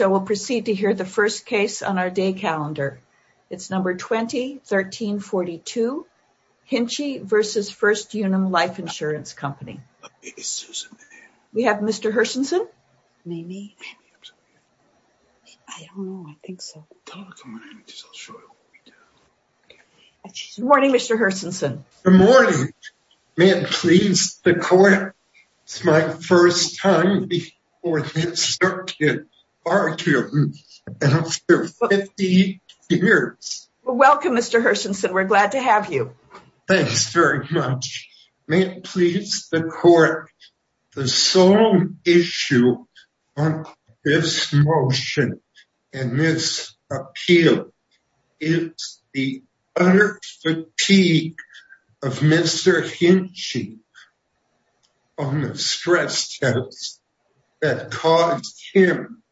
So we'll proceed to hear the first case on our day calendar. It's number 20-1342, Hinchey v. First Unum Life Insurance Co. We have Mr. Hirsonson. Good morning, Mr. Hirsonson. Good morning. May it please the court, it's my first time before this circuit. Are you Mr. Hirsonson, we're glad to have you. Thanks very much. May it please the court, the sole issue on this motion and this appeal is the utter fatigue of Mr. Hinchey on the stress test that caused him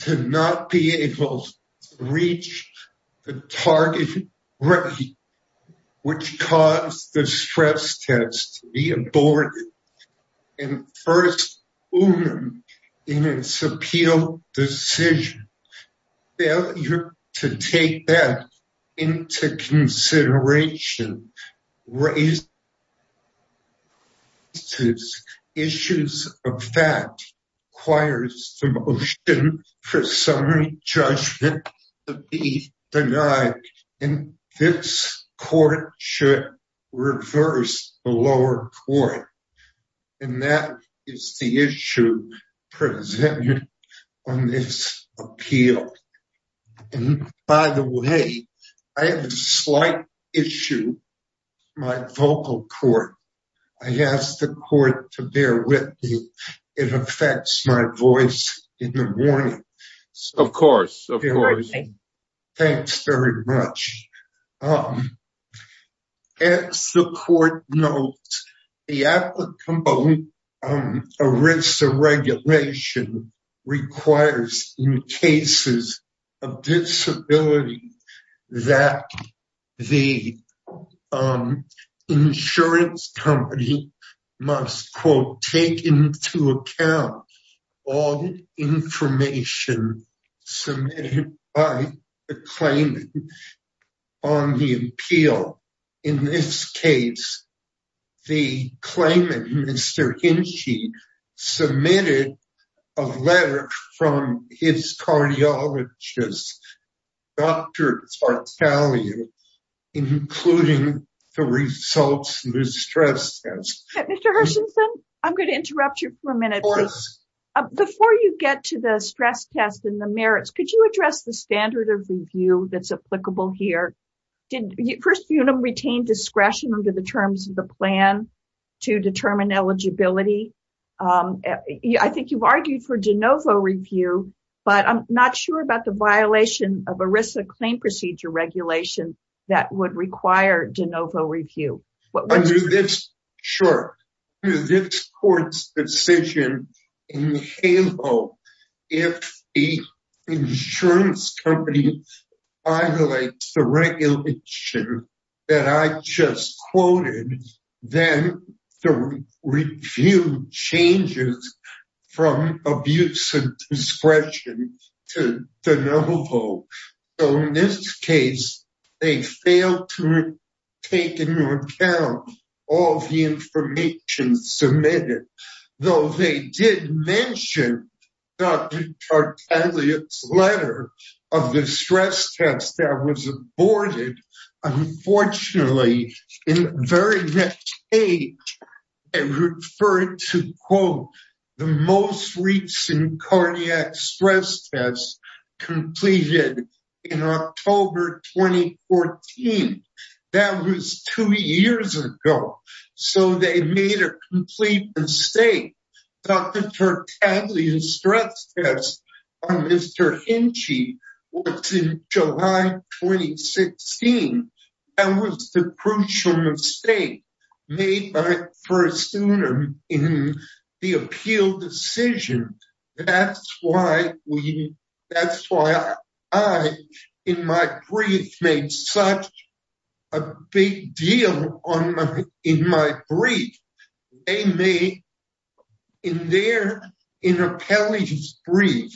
to not be able to reach the target rate, which caused the stress test to be aborted and First Unum in take that into consideration, raises issues of fact, requires the motion for summary judgment to be denied and this court should reverse the lower court and that is the issue presented on this appeal. By the way, I have a slight issue with my vocal cord. I ask the court to bear with me. It affects my voice in the morning. Of course. Thanks very much. As the court notes, the applicable ERISA regulation requires in cases of disability that the insurance company must, quote, take into account all information submitted by the claimant on the appeal. In this case, the claimant, Mr. Hinchey, submitted a letter from his cardiologist, Dr. Tartaglia, including the results of the stress test. Mr. Hersonson, I'm going to interrupt you for a minute. Before you get to the stress test and the merits, could you address the standard of review that's applicable here? First Unum retained discretion under the terms of the plan to determine eligibility. I think you've argued for de novo review, but I'm not sure about the violation of ERISA claim procedure regulation that would require de novo review. Sure. Under this court's decision, in halo, if the insurance company violates the regulation that I just quoted, then the review changes from abuse and discretion to de novo. So in this case, they failed to take into account all of the information submitted, though they did mention Dr. Tartaglia's letter of the stress test that was aborted. Unfortunately, in the very next day, they referred to, quote, the most recent cardiac stress test completed in October 2014. That was two years ago. So they made a complete mistake. Dr. Tartaglia's stress test on Mr. Hinchey was in July 2016. That was the crucial mistake made by First Unum in the appeal decision. That's why I, in my brief, made such a big deal in my brief. In their brief,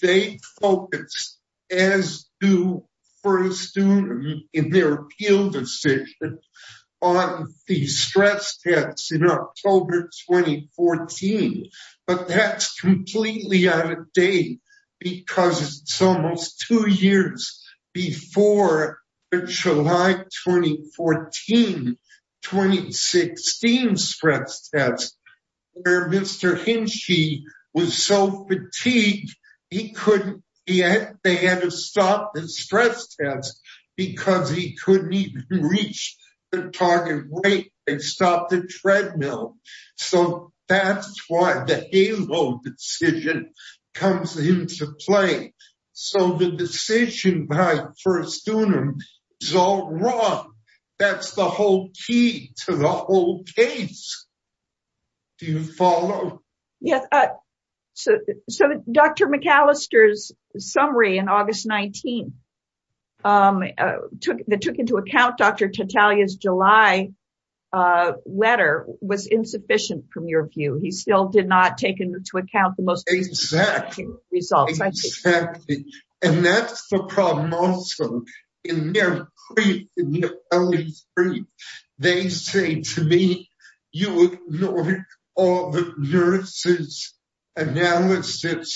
they focused, as do First Unum in their appeal decision, on the stress test in October 2014. But that's completely out of date because it's almost two years before the July 2014-2016 stress test, where Mr. Hinchey was so fatigued, they had to stop the stress test because he couldn't even reach the target weight. They stopped the treadmill. So that's why the HALO decision comes into play. So the decision by First Unum is all wrong. That's the whole key to the whole case. Do you follow? So Dr. McAllister's summary in August 2019 that took into account Dr. Tartaglia's July letter was insufficient from your view. He still did not take into account the most recent analysis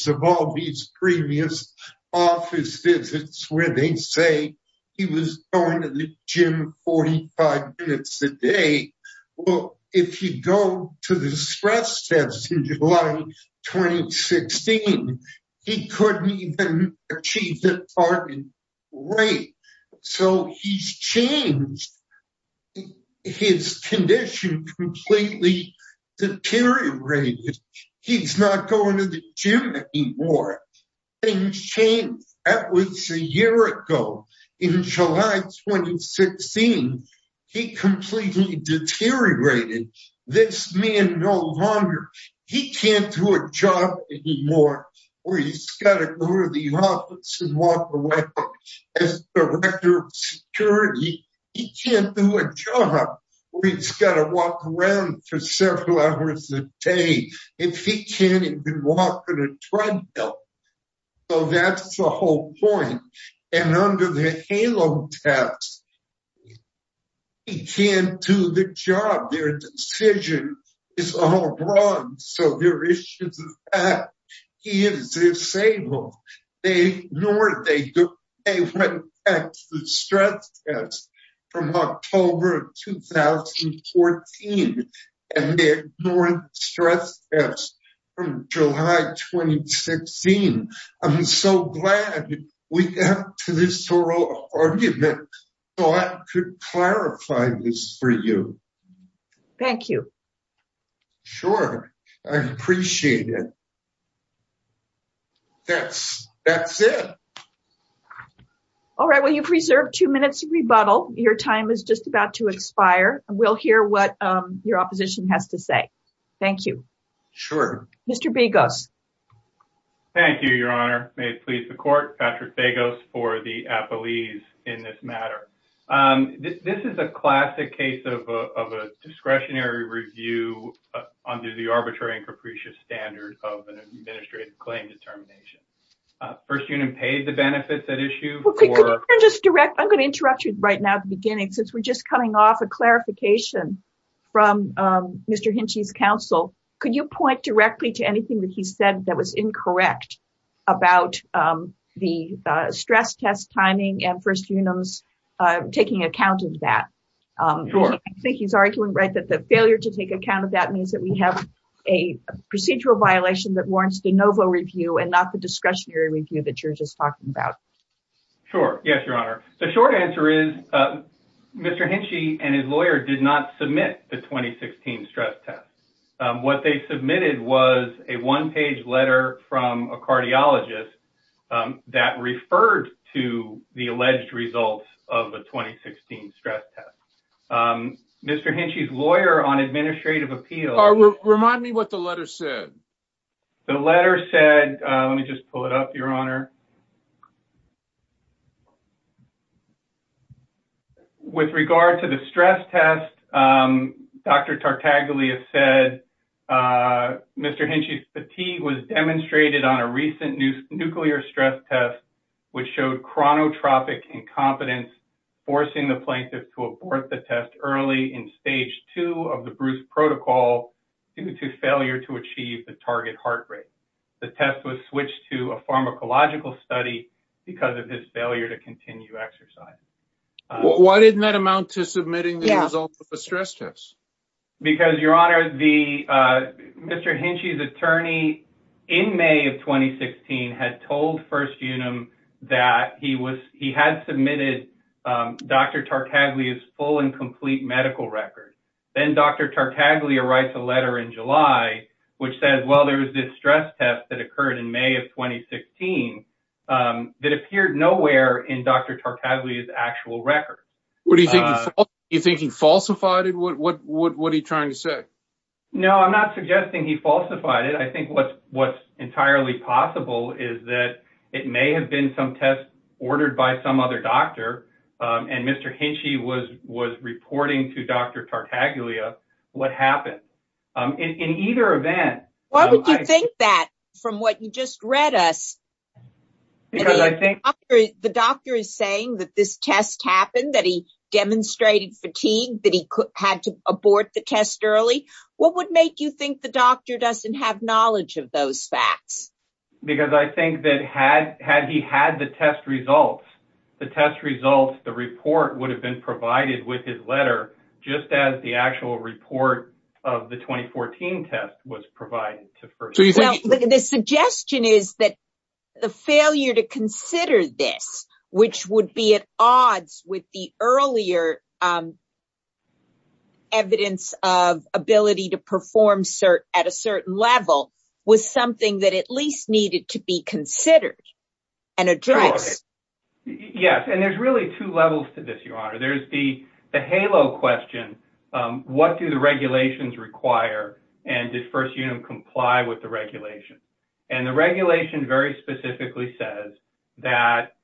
of all these previous office visits where they say he was going to the gym 45 minutes a day. Well, if you go to the stress test in July 2016, he couldn't even achieve the target weight. So he's changed. His condition completely deteriorated. He's not going to the gym anymore. Things changed. That was a year ago. In July 2016, he completely deteriorated. This man no longer, he can't do a job anymore where he's got to go to the office and walk around as director of security. He can't do a job where he's got to walk around for several hours a day if he can't even walk on a treadmill. So that's the whole point. And under the HALO test, he can't do the job. Their decision is all wrong. So their issue is that he is disabled. They ignored, they went back to the stress test from October 2014 and they ignored the stress test from July 2016. I'm so glad we got to this oral argument so I could clarify this for you. Thank you. Sure. I appreciate it. That's it. All right. Well, you've preserved two minutes of rebuttal. Your time is just about to expire. We'll hear what your opposition has to say. Thank you. Sure. Mr. Begos. Thank you, Your Honor. May it please the court, Patrick Begos for the appellees in this matter. This is a classic case of a discretionary review under the arbitrary and capricious standard of an administrative claim determination. First unit paid the benefits at issue. I'm going to interrupt you right now at the beginning since we're just coming off a clarification from Mr. Hinchey's counsel. Could you point directly to anything that he said that was incorrect about the stress test timing and first units taking account of that? Sure. I think he's arguing that the failure to take account of that means that we have a procedural violation that you're just talking about. Sure. Yes, Your Honor. The short answer is Mr. Hinchey and his lawyer did not submit the 2016 stress test. What they submitted was a one page letter from a cardiologist that referred to the alleged results of the 2016 stress test. Mr. Hinchey's lawyer on administrative appeal. Remind me what the letter said. The letter said, let me just pull it up, Your Honor. With regard to the stress test, Dr. Tartaglia said Mr. Hinchey's fatigue was demonstrated on a recent nuclear stress test, which showed chronotropic incompetence, forcing the plaintiff to abort the test early in stage two of the Bruce protocol due to failure to achieve the target heart rate. The test was switched to a pharmacological study because of his failure to continue exercise. Why didn't that amount to submitting the results of the stress test? Because, Your Honor, Mr. Hinchey's attorney in May of 2016 had told First Unum that he had submitted Dr. Tartaglia's full and complete medical record. Then Dr. Tartaglia writes a letter in July which says, well, there was this stress test that occurred in May of 2016 that appeared nowhere in Dr. Tartaglia's actual record. What do you think? You think he falsified it? What what what are you trying to say? No, I'm not suggesting he falsified it. I think what's what's entirely possible is that it may have been some test ordered by some other doctor. And Mr. Hinchey was was reporting to Dr. Tartaglia. What happened in either event? Why would you think that from what you just read us? I think the doctor is saying that this test happened, that he demonstrated fatigue, that he had to abort the test early. What would make you think the doctor doesn't have knowledge of those facts? Because I think that had had he had the test results, the test results, the report would have been provided with his letter just as the actual report of the 2014 test was provided. The suggestion is that the failure to consider this, which would be at odds with the earlier. Evidence of ability to perform cert at a certain level was something that at least needed to be considered and addressed. Yes. And there's really two levels to this. Your Honor, there's the the halo question. What do the regulations require? And this first, you know, comply with the regulation and the regulation very specifically says that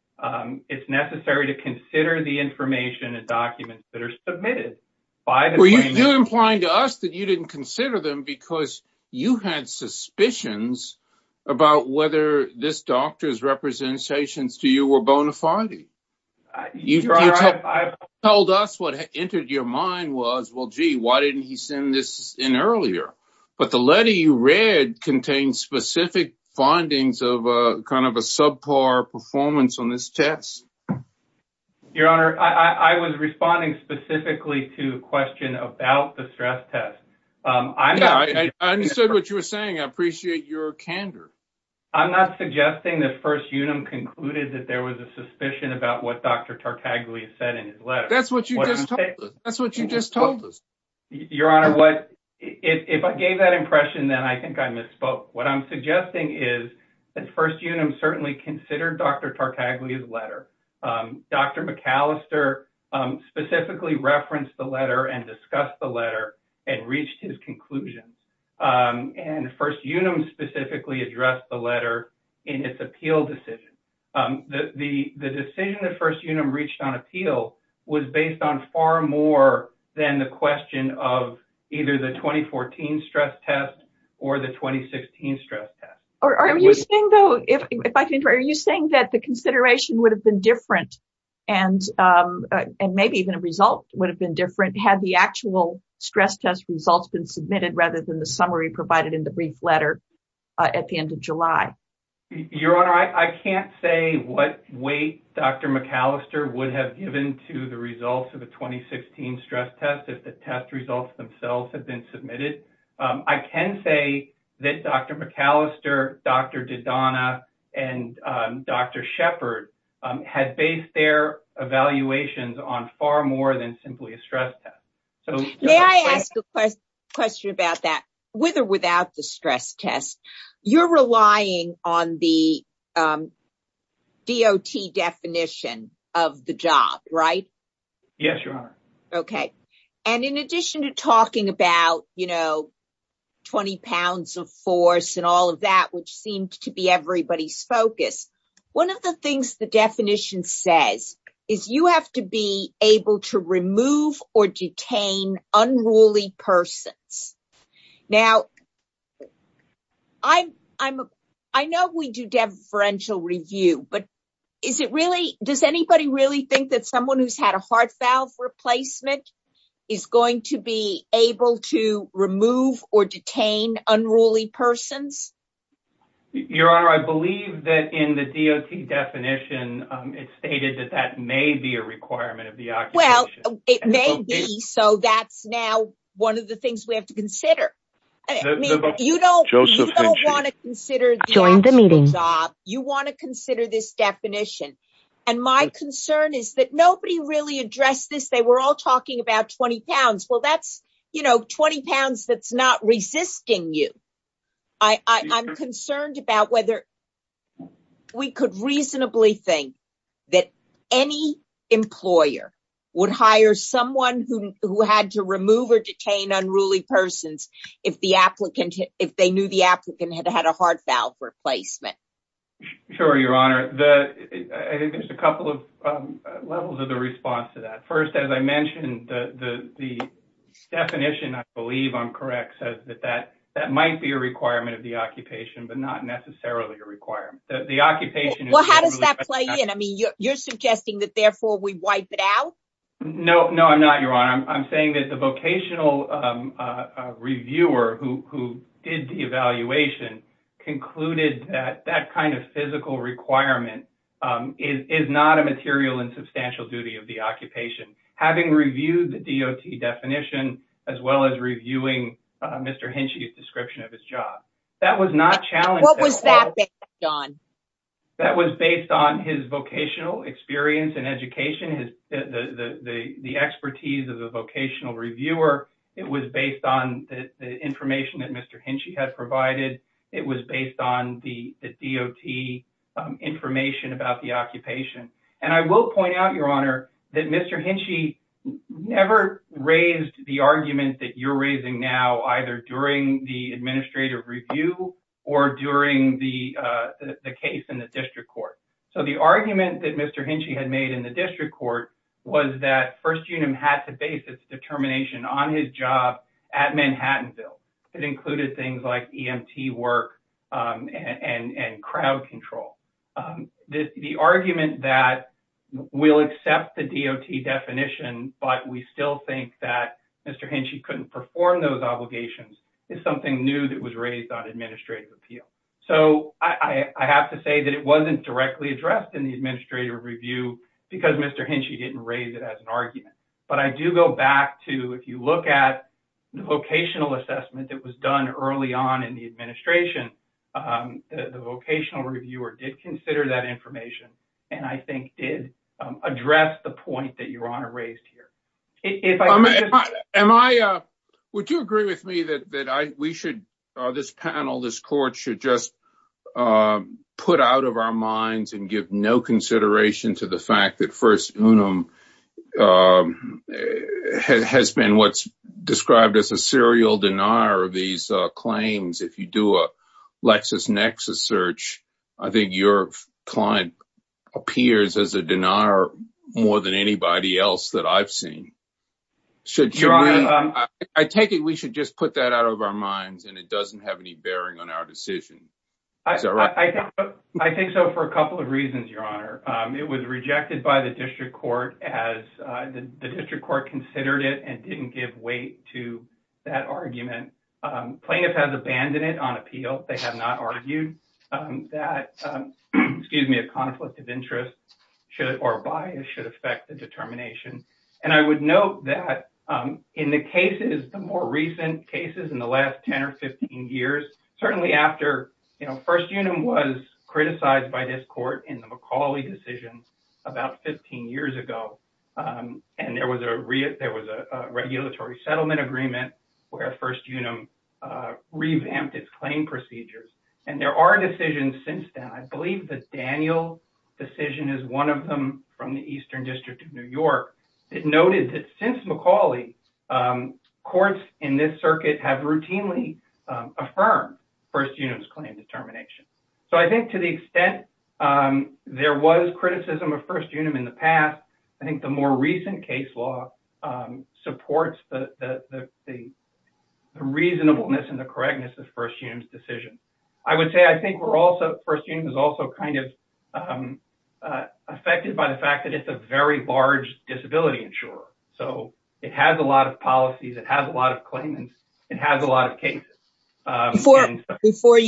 it's necessary to consider the information and documents that are submitted by the. You're implying to us that you didn't consider them because you had suspicions about whether this doctor's representations to you were bona fide. You've told us what entered your mind was, well, gee, why didn't he send this in earlier? But the letter you read contains specific findings of kind of a subpar performance on this test. Your Honor, I was responding specifically to a question about the stress test. I understood what you were saying. I appreciate your candor. I'm not suggesting that first, you know, concluded that there was a suspicion about what Dr. Tartaglia said in his letter. That's what you just that's what you just told us. Your Honor, what if I gave that impression, then I think I misspoke. What I'm suggesting is that first, you know, certainly considered Dr. Tartaglia's letter. Dr. McAllister specifically referenced the letter and discussed the letter and reached his conclusion. And first, you know, specifically addressed the letter in its appeal decision. The decision that first, you know, reached on appeal was based on far more than the question of either the 2014 stress test or the 2016 stress test. Are you saying that the consideration would have been different and maybe even a result would have been different had the actual stress test results been submitted rather than the summary provided in the brief letter at the end of July? Your Honor, I can't say what weight Dr. McAllister would have given to the results of the 2016 stress test if the test results themselves had been submitted. I can say that Dr. McAllister, Dr. Dodonna and Dr. Shepherd had based their evaluations on far more than simply a stress test. So may I ask a question about that with or without the stress test? You're relying on the DOT definition of the job, right? Yes, Your Honor. Okay. And in addition to talking about, you know, 20 pounds of force and all of that, which seemed to be everybody's focus, one of the things the definition says is you have to be able to remove or detain unruly persons. Now, I know we do deferential review, but is it really, does anybody really think that someone who's had a heart valve replacement is going to be able to remove or detain unruly persons? Your Honor, I believe that in the DOT definition, it's stated that that may be a requirement of the occupation. It may be. So that's now one of the things we have to consider. You don't want to consider the actual job. You want to consider this definition. And my concern is that nobody really addressed this. They were all talking about 20 pounds. Well, that's, you know, 20 pounds that's not resisting you. I'm concerned about whether we could reasonably think that any employer would hire someone who had to remove or detain unruly persons if they knew the applicant had had a heart valve replacement. Sure, Your Honor. I think there's a couple of levels of the response to that. First, as I mentioned, the definition, I believe I'm correct, says that that might be a requirement of the occupation, but not necessarily a requirement. Well, how does that play in? I mean, you're suggesting that therefore we wipe it out? Your Honor, I'm saying that the vocational reviewer who did the evaluation concluded that that kind of physical requirement is not a material and substantial duty of the occupation. Having reviewed the DOT definition, as well as reviewing Mr. Henschey's description of his job, that was not challenged. What was that based on? That was based on his vocational experience and education, the expertise of the vocational reviewer. It was based on the information that Mr. Henschey had provided. It was based on the DOT information about the occupation. I will point out, Your Honor, that Mr. Henschey never raised the argument that you're raising now, either during the administrative review or during the case in the district court. The argument that Mr. Henschey had made in the district court was that First Unit had to base its determination on his job at Manhattanville. It included things like EMT work and crowd control. The argument that we'll accept the DOT definition, but we still think that Mr. Henschey couldn't perform those obligations, is something new that was raised on administrative appeal. I have to say that it wasn't directly addressed in the administrative review because Mr. Henschey didn't raise it as an argument. I do go back to, if you look at the vocational assessment that was done early on in the administration, the vocational reviewer did consider that information and I think did address the point that Your Honor raised here. Would you agree with me that this panel, this court, should just put out of our minds and give no consideration to the fact that First Unum has been what's described as a serial denier of these claims? If you do a LexisNexis search, I think your client appears as a denier more than anybody else that I've seen. I take it we should just put that out of our minds and it doesn't have any bearing on our decision. I think so for a couple of reasons, Your Honor. It was rejected by the district court as the district court considered it and didn't give weight to that argument. Plaintiff has abandoned it on appeal. They have not argued that a conflict of interest or bias should affect the determination. I would note that in the cases, the more recent cases in the last 10 or 15 years, certainly after First Unum was criticized by this court in the McCauley decision about 15 years ago, and there was a regulatory settlement agreement where First Unum revamped its claim procedures. There are decisions since then. I believe the Daniel decision is one of them from the Eastern District of New York. It noted that since McCauley, courts in this circuit have routinely affirmed First Unum's claim determination. I think to the extent there was criticism of First Unum in the past, I think the more recent case law supports the reasonableness and the correctness of First Unum's decision. I would say I think First Unum is also affected by the fact that it's a very large disability insurer. It has a lot of policies. It has a lot of claimants. It has a lot of cases. Before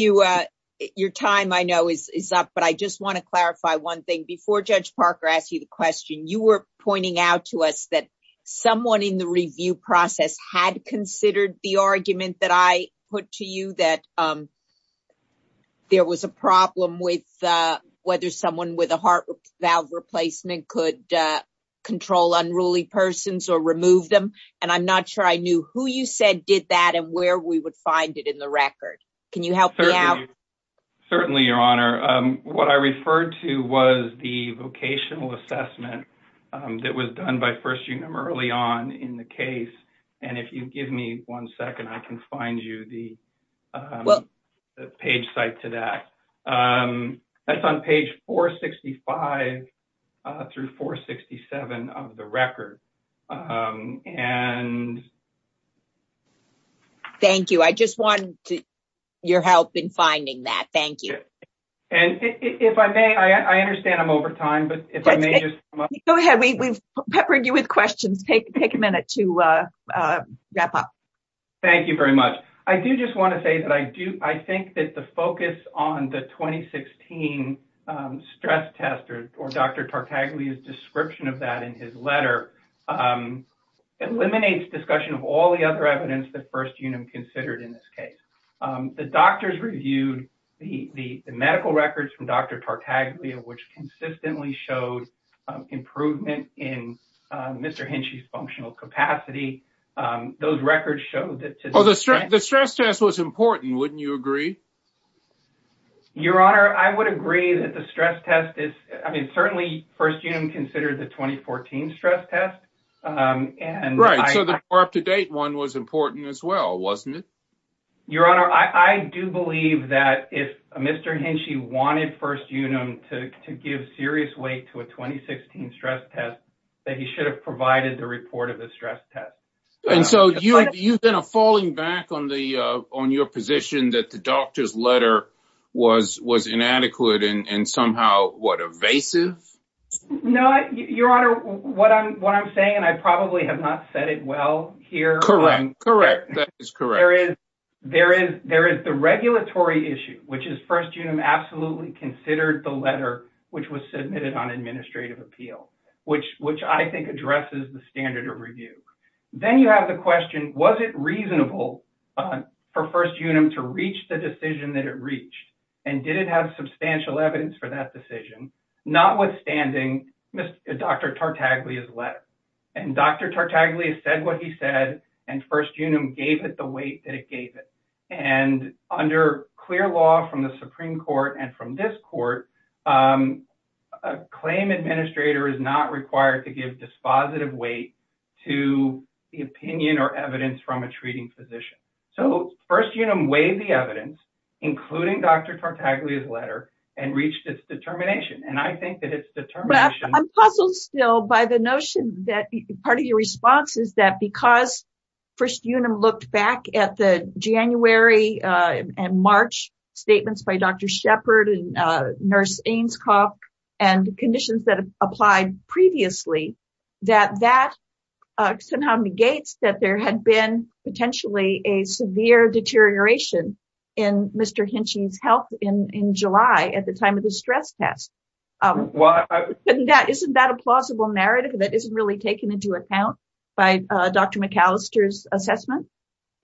your time, I know, is up, but I just want to clarify one thing. Before Judge Parker asked you the question, you were pointing out to us that someone in the review process had considered the argument that I put to you, that there was a problem with whether someone with a heart valve replacement could control unruly persons or remove them. I'm not sure I knew who you said did that and where we would find it in the record. Can you help me out? Certainly, Your Honor. What I referred to was the vocational assessment that was done by First Unum early on in the case. If you give me one second, I can find you the page site to that. That's on page 465 through 467 of the record. Thank you. I just wanted your help in finding that. Thank you. If I may, I understand I'm over time. Go ahead. We've peppered you with questions. Take a minute to wrap up. Thank you very much. I do just want to say that I think that the focus on the 2016 stress test, or Dr. Tartaglia's description of that in his letter, eliminates discussion of all the other evidence that First Unum considered in this case. The doctors reviewed the medical records from Dr. Tartaglia, which consistently showed improvement in Mr. Henschey's functional capacity. Those records show that... The stress test was important, wouldn't you agree? Your Honor, I would agree that the stress test is... I mean, certainly First Unum considered the 2014 stress test. Right. So the more up-to-date one was important as well, wasn't it? Your Honor, I do believe that if Mr. Henschey wanted First Unum to give serious weight to a 2016 stress test, that he should have provided the report of the stress test. And so you've been falling back on your position that the doctor's letter was inadequate and somehow, what, evasive? No, Your Honor, what I'm saying, and I probably have not said it well here... Correct. That is correct. There is the regulatory issue, which is First Unum absolutely considered the letter which was submitted on administrative appeal, which I think addresses the standard of review. Then you have the question, was it reasonable for First Unum to reach the decision that it reached? And did it have substantial evidence for that decision? Notwithstanding Dr. Tartaglia's letter. And Dr. Tartaglia said what he said, and First Unum gave it the weight that it gave it. And under clear law from the Supreme Court and from this court, a claim administrator is not required to give dispositive weight to the opinion or evidence from a treating physician. So First Unum weighed the evidence, including Dr. Tartaglia's letter, and reached its determination. And I think that its determination... The February and March statements by Dr. Shepard and Nurse Ainscough, and conditions that have applied previously, that that somehow negates that there had been potentially a severe deterioration in Mr. Hinchey's health in July at the time of the stress test. Isn't that a plausible narrative that isn't really taken into account by Dr. McAllister's assessment?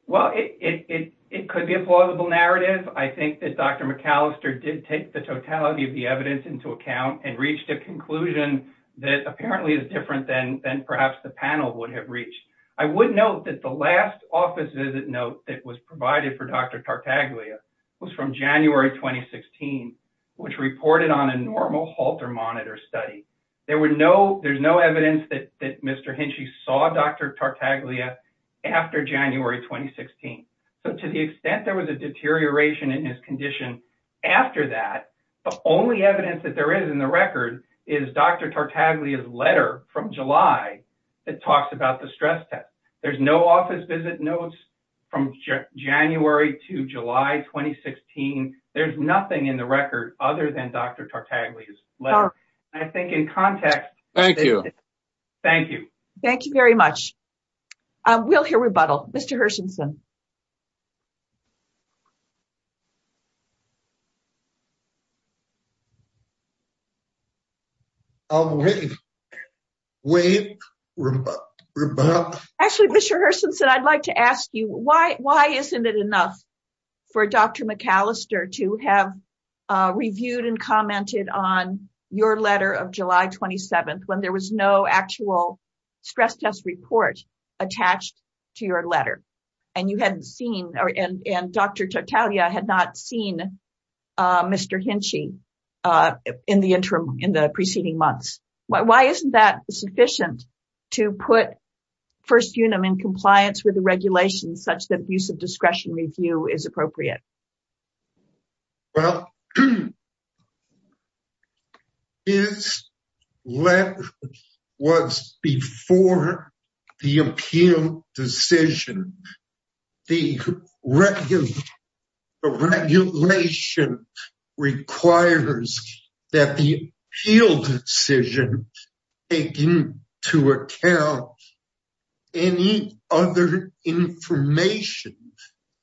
Well, it could be a plausible narrative. I think that Dr. McAllister did take the totality of the evidence into account and reached a conclusion that apparently is different than perhaps the panel would have reached. I would note that the last office visit note that was provided for Dr. Tartaglia was from January 2016, which reported on a normal halter monitor study. There's no evidence that Mr. Hinchey saw Dr. Tartaglia after January 2016. So to the extent there was a deterioration in his condition after that, the only evidence that there is in the record is Dr. Tartaglia's letter from July that talks about the stress test. There's no office visit notes from January to July 2016. There's nothing in the record other than Dr. Tartaglia's letter. Thank you. Thank you very much. We'll hear rebuttal. Mr. Hersenson. Actually, Mr. Hersenson, I'd like to ask you, why isn't it enough for Dr. McAllister to have reviewed and commented on your letter of July 27th when there was no actual stress test report attached to your letter? And Dr. Tartaglia had not seen Mr. Hinchey in the preceding months. Why isn't that sufficient to put First Unum in compliance with the regulations such that abuse of discretion review is appropriate? Well, his letter was before the appeal decision. The regulation requires that the appeal decision take into account any other information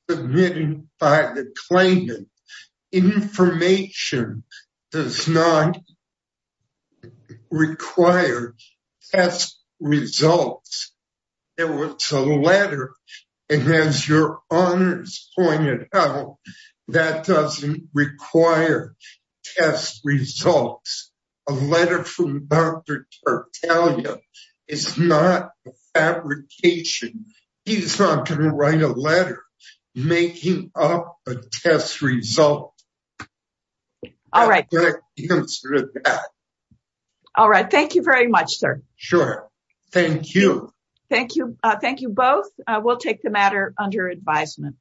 submitted by the claimant. Information does not require test results. There was a letter, and as your honors pointed out, that doesn't require test results. A letter from Dr. Tartaglia is not a fabrication. He's not going to write a letter making up a test result. All right. Sure. Thank you. Thank you. Thank you both. We'll take the matter under advisement.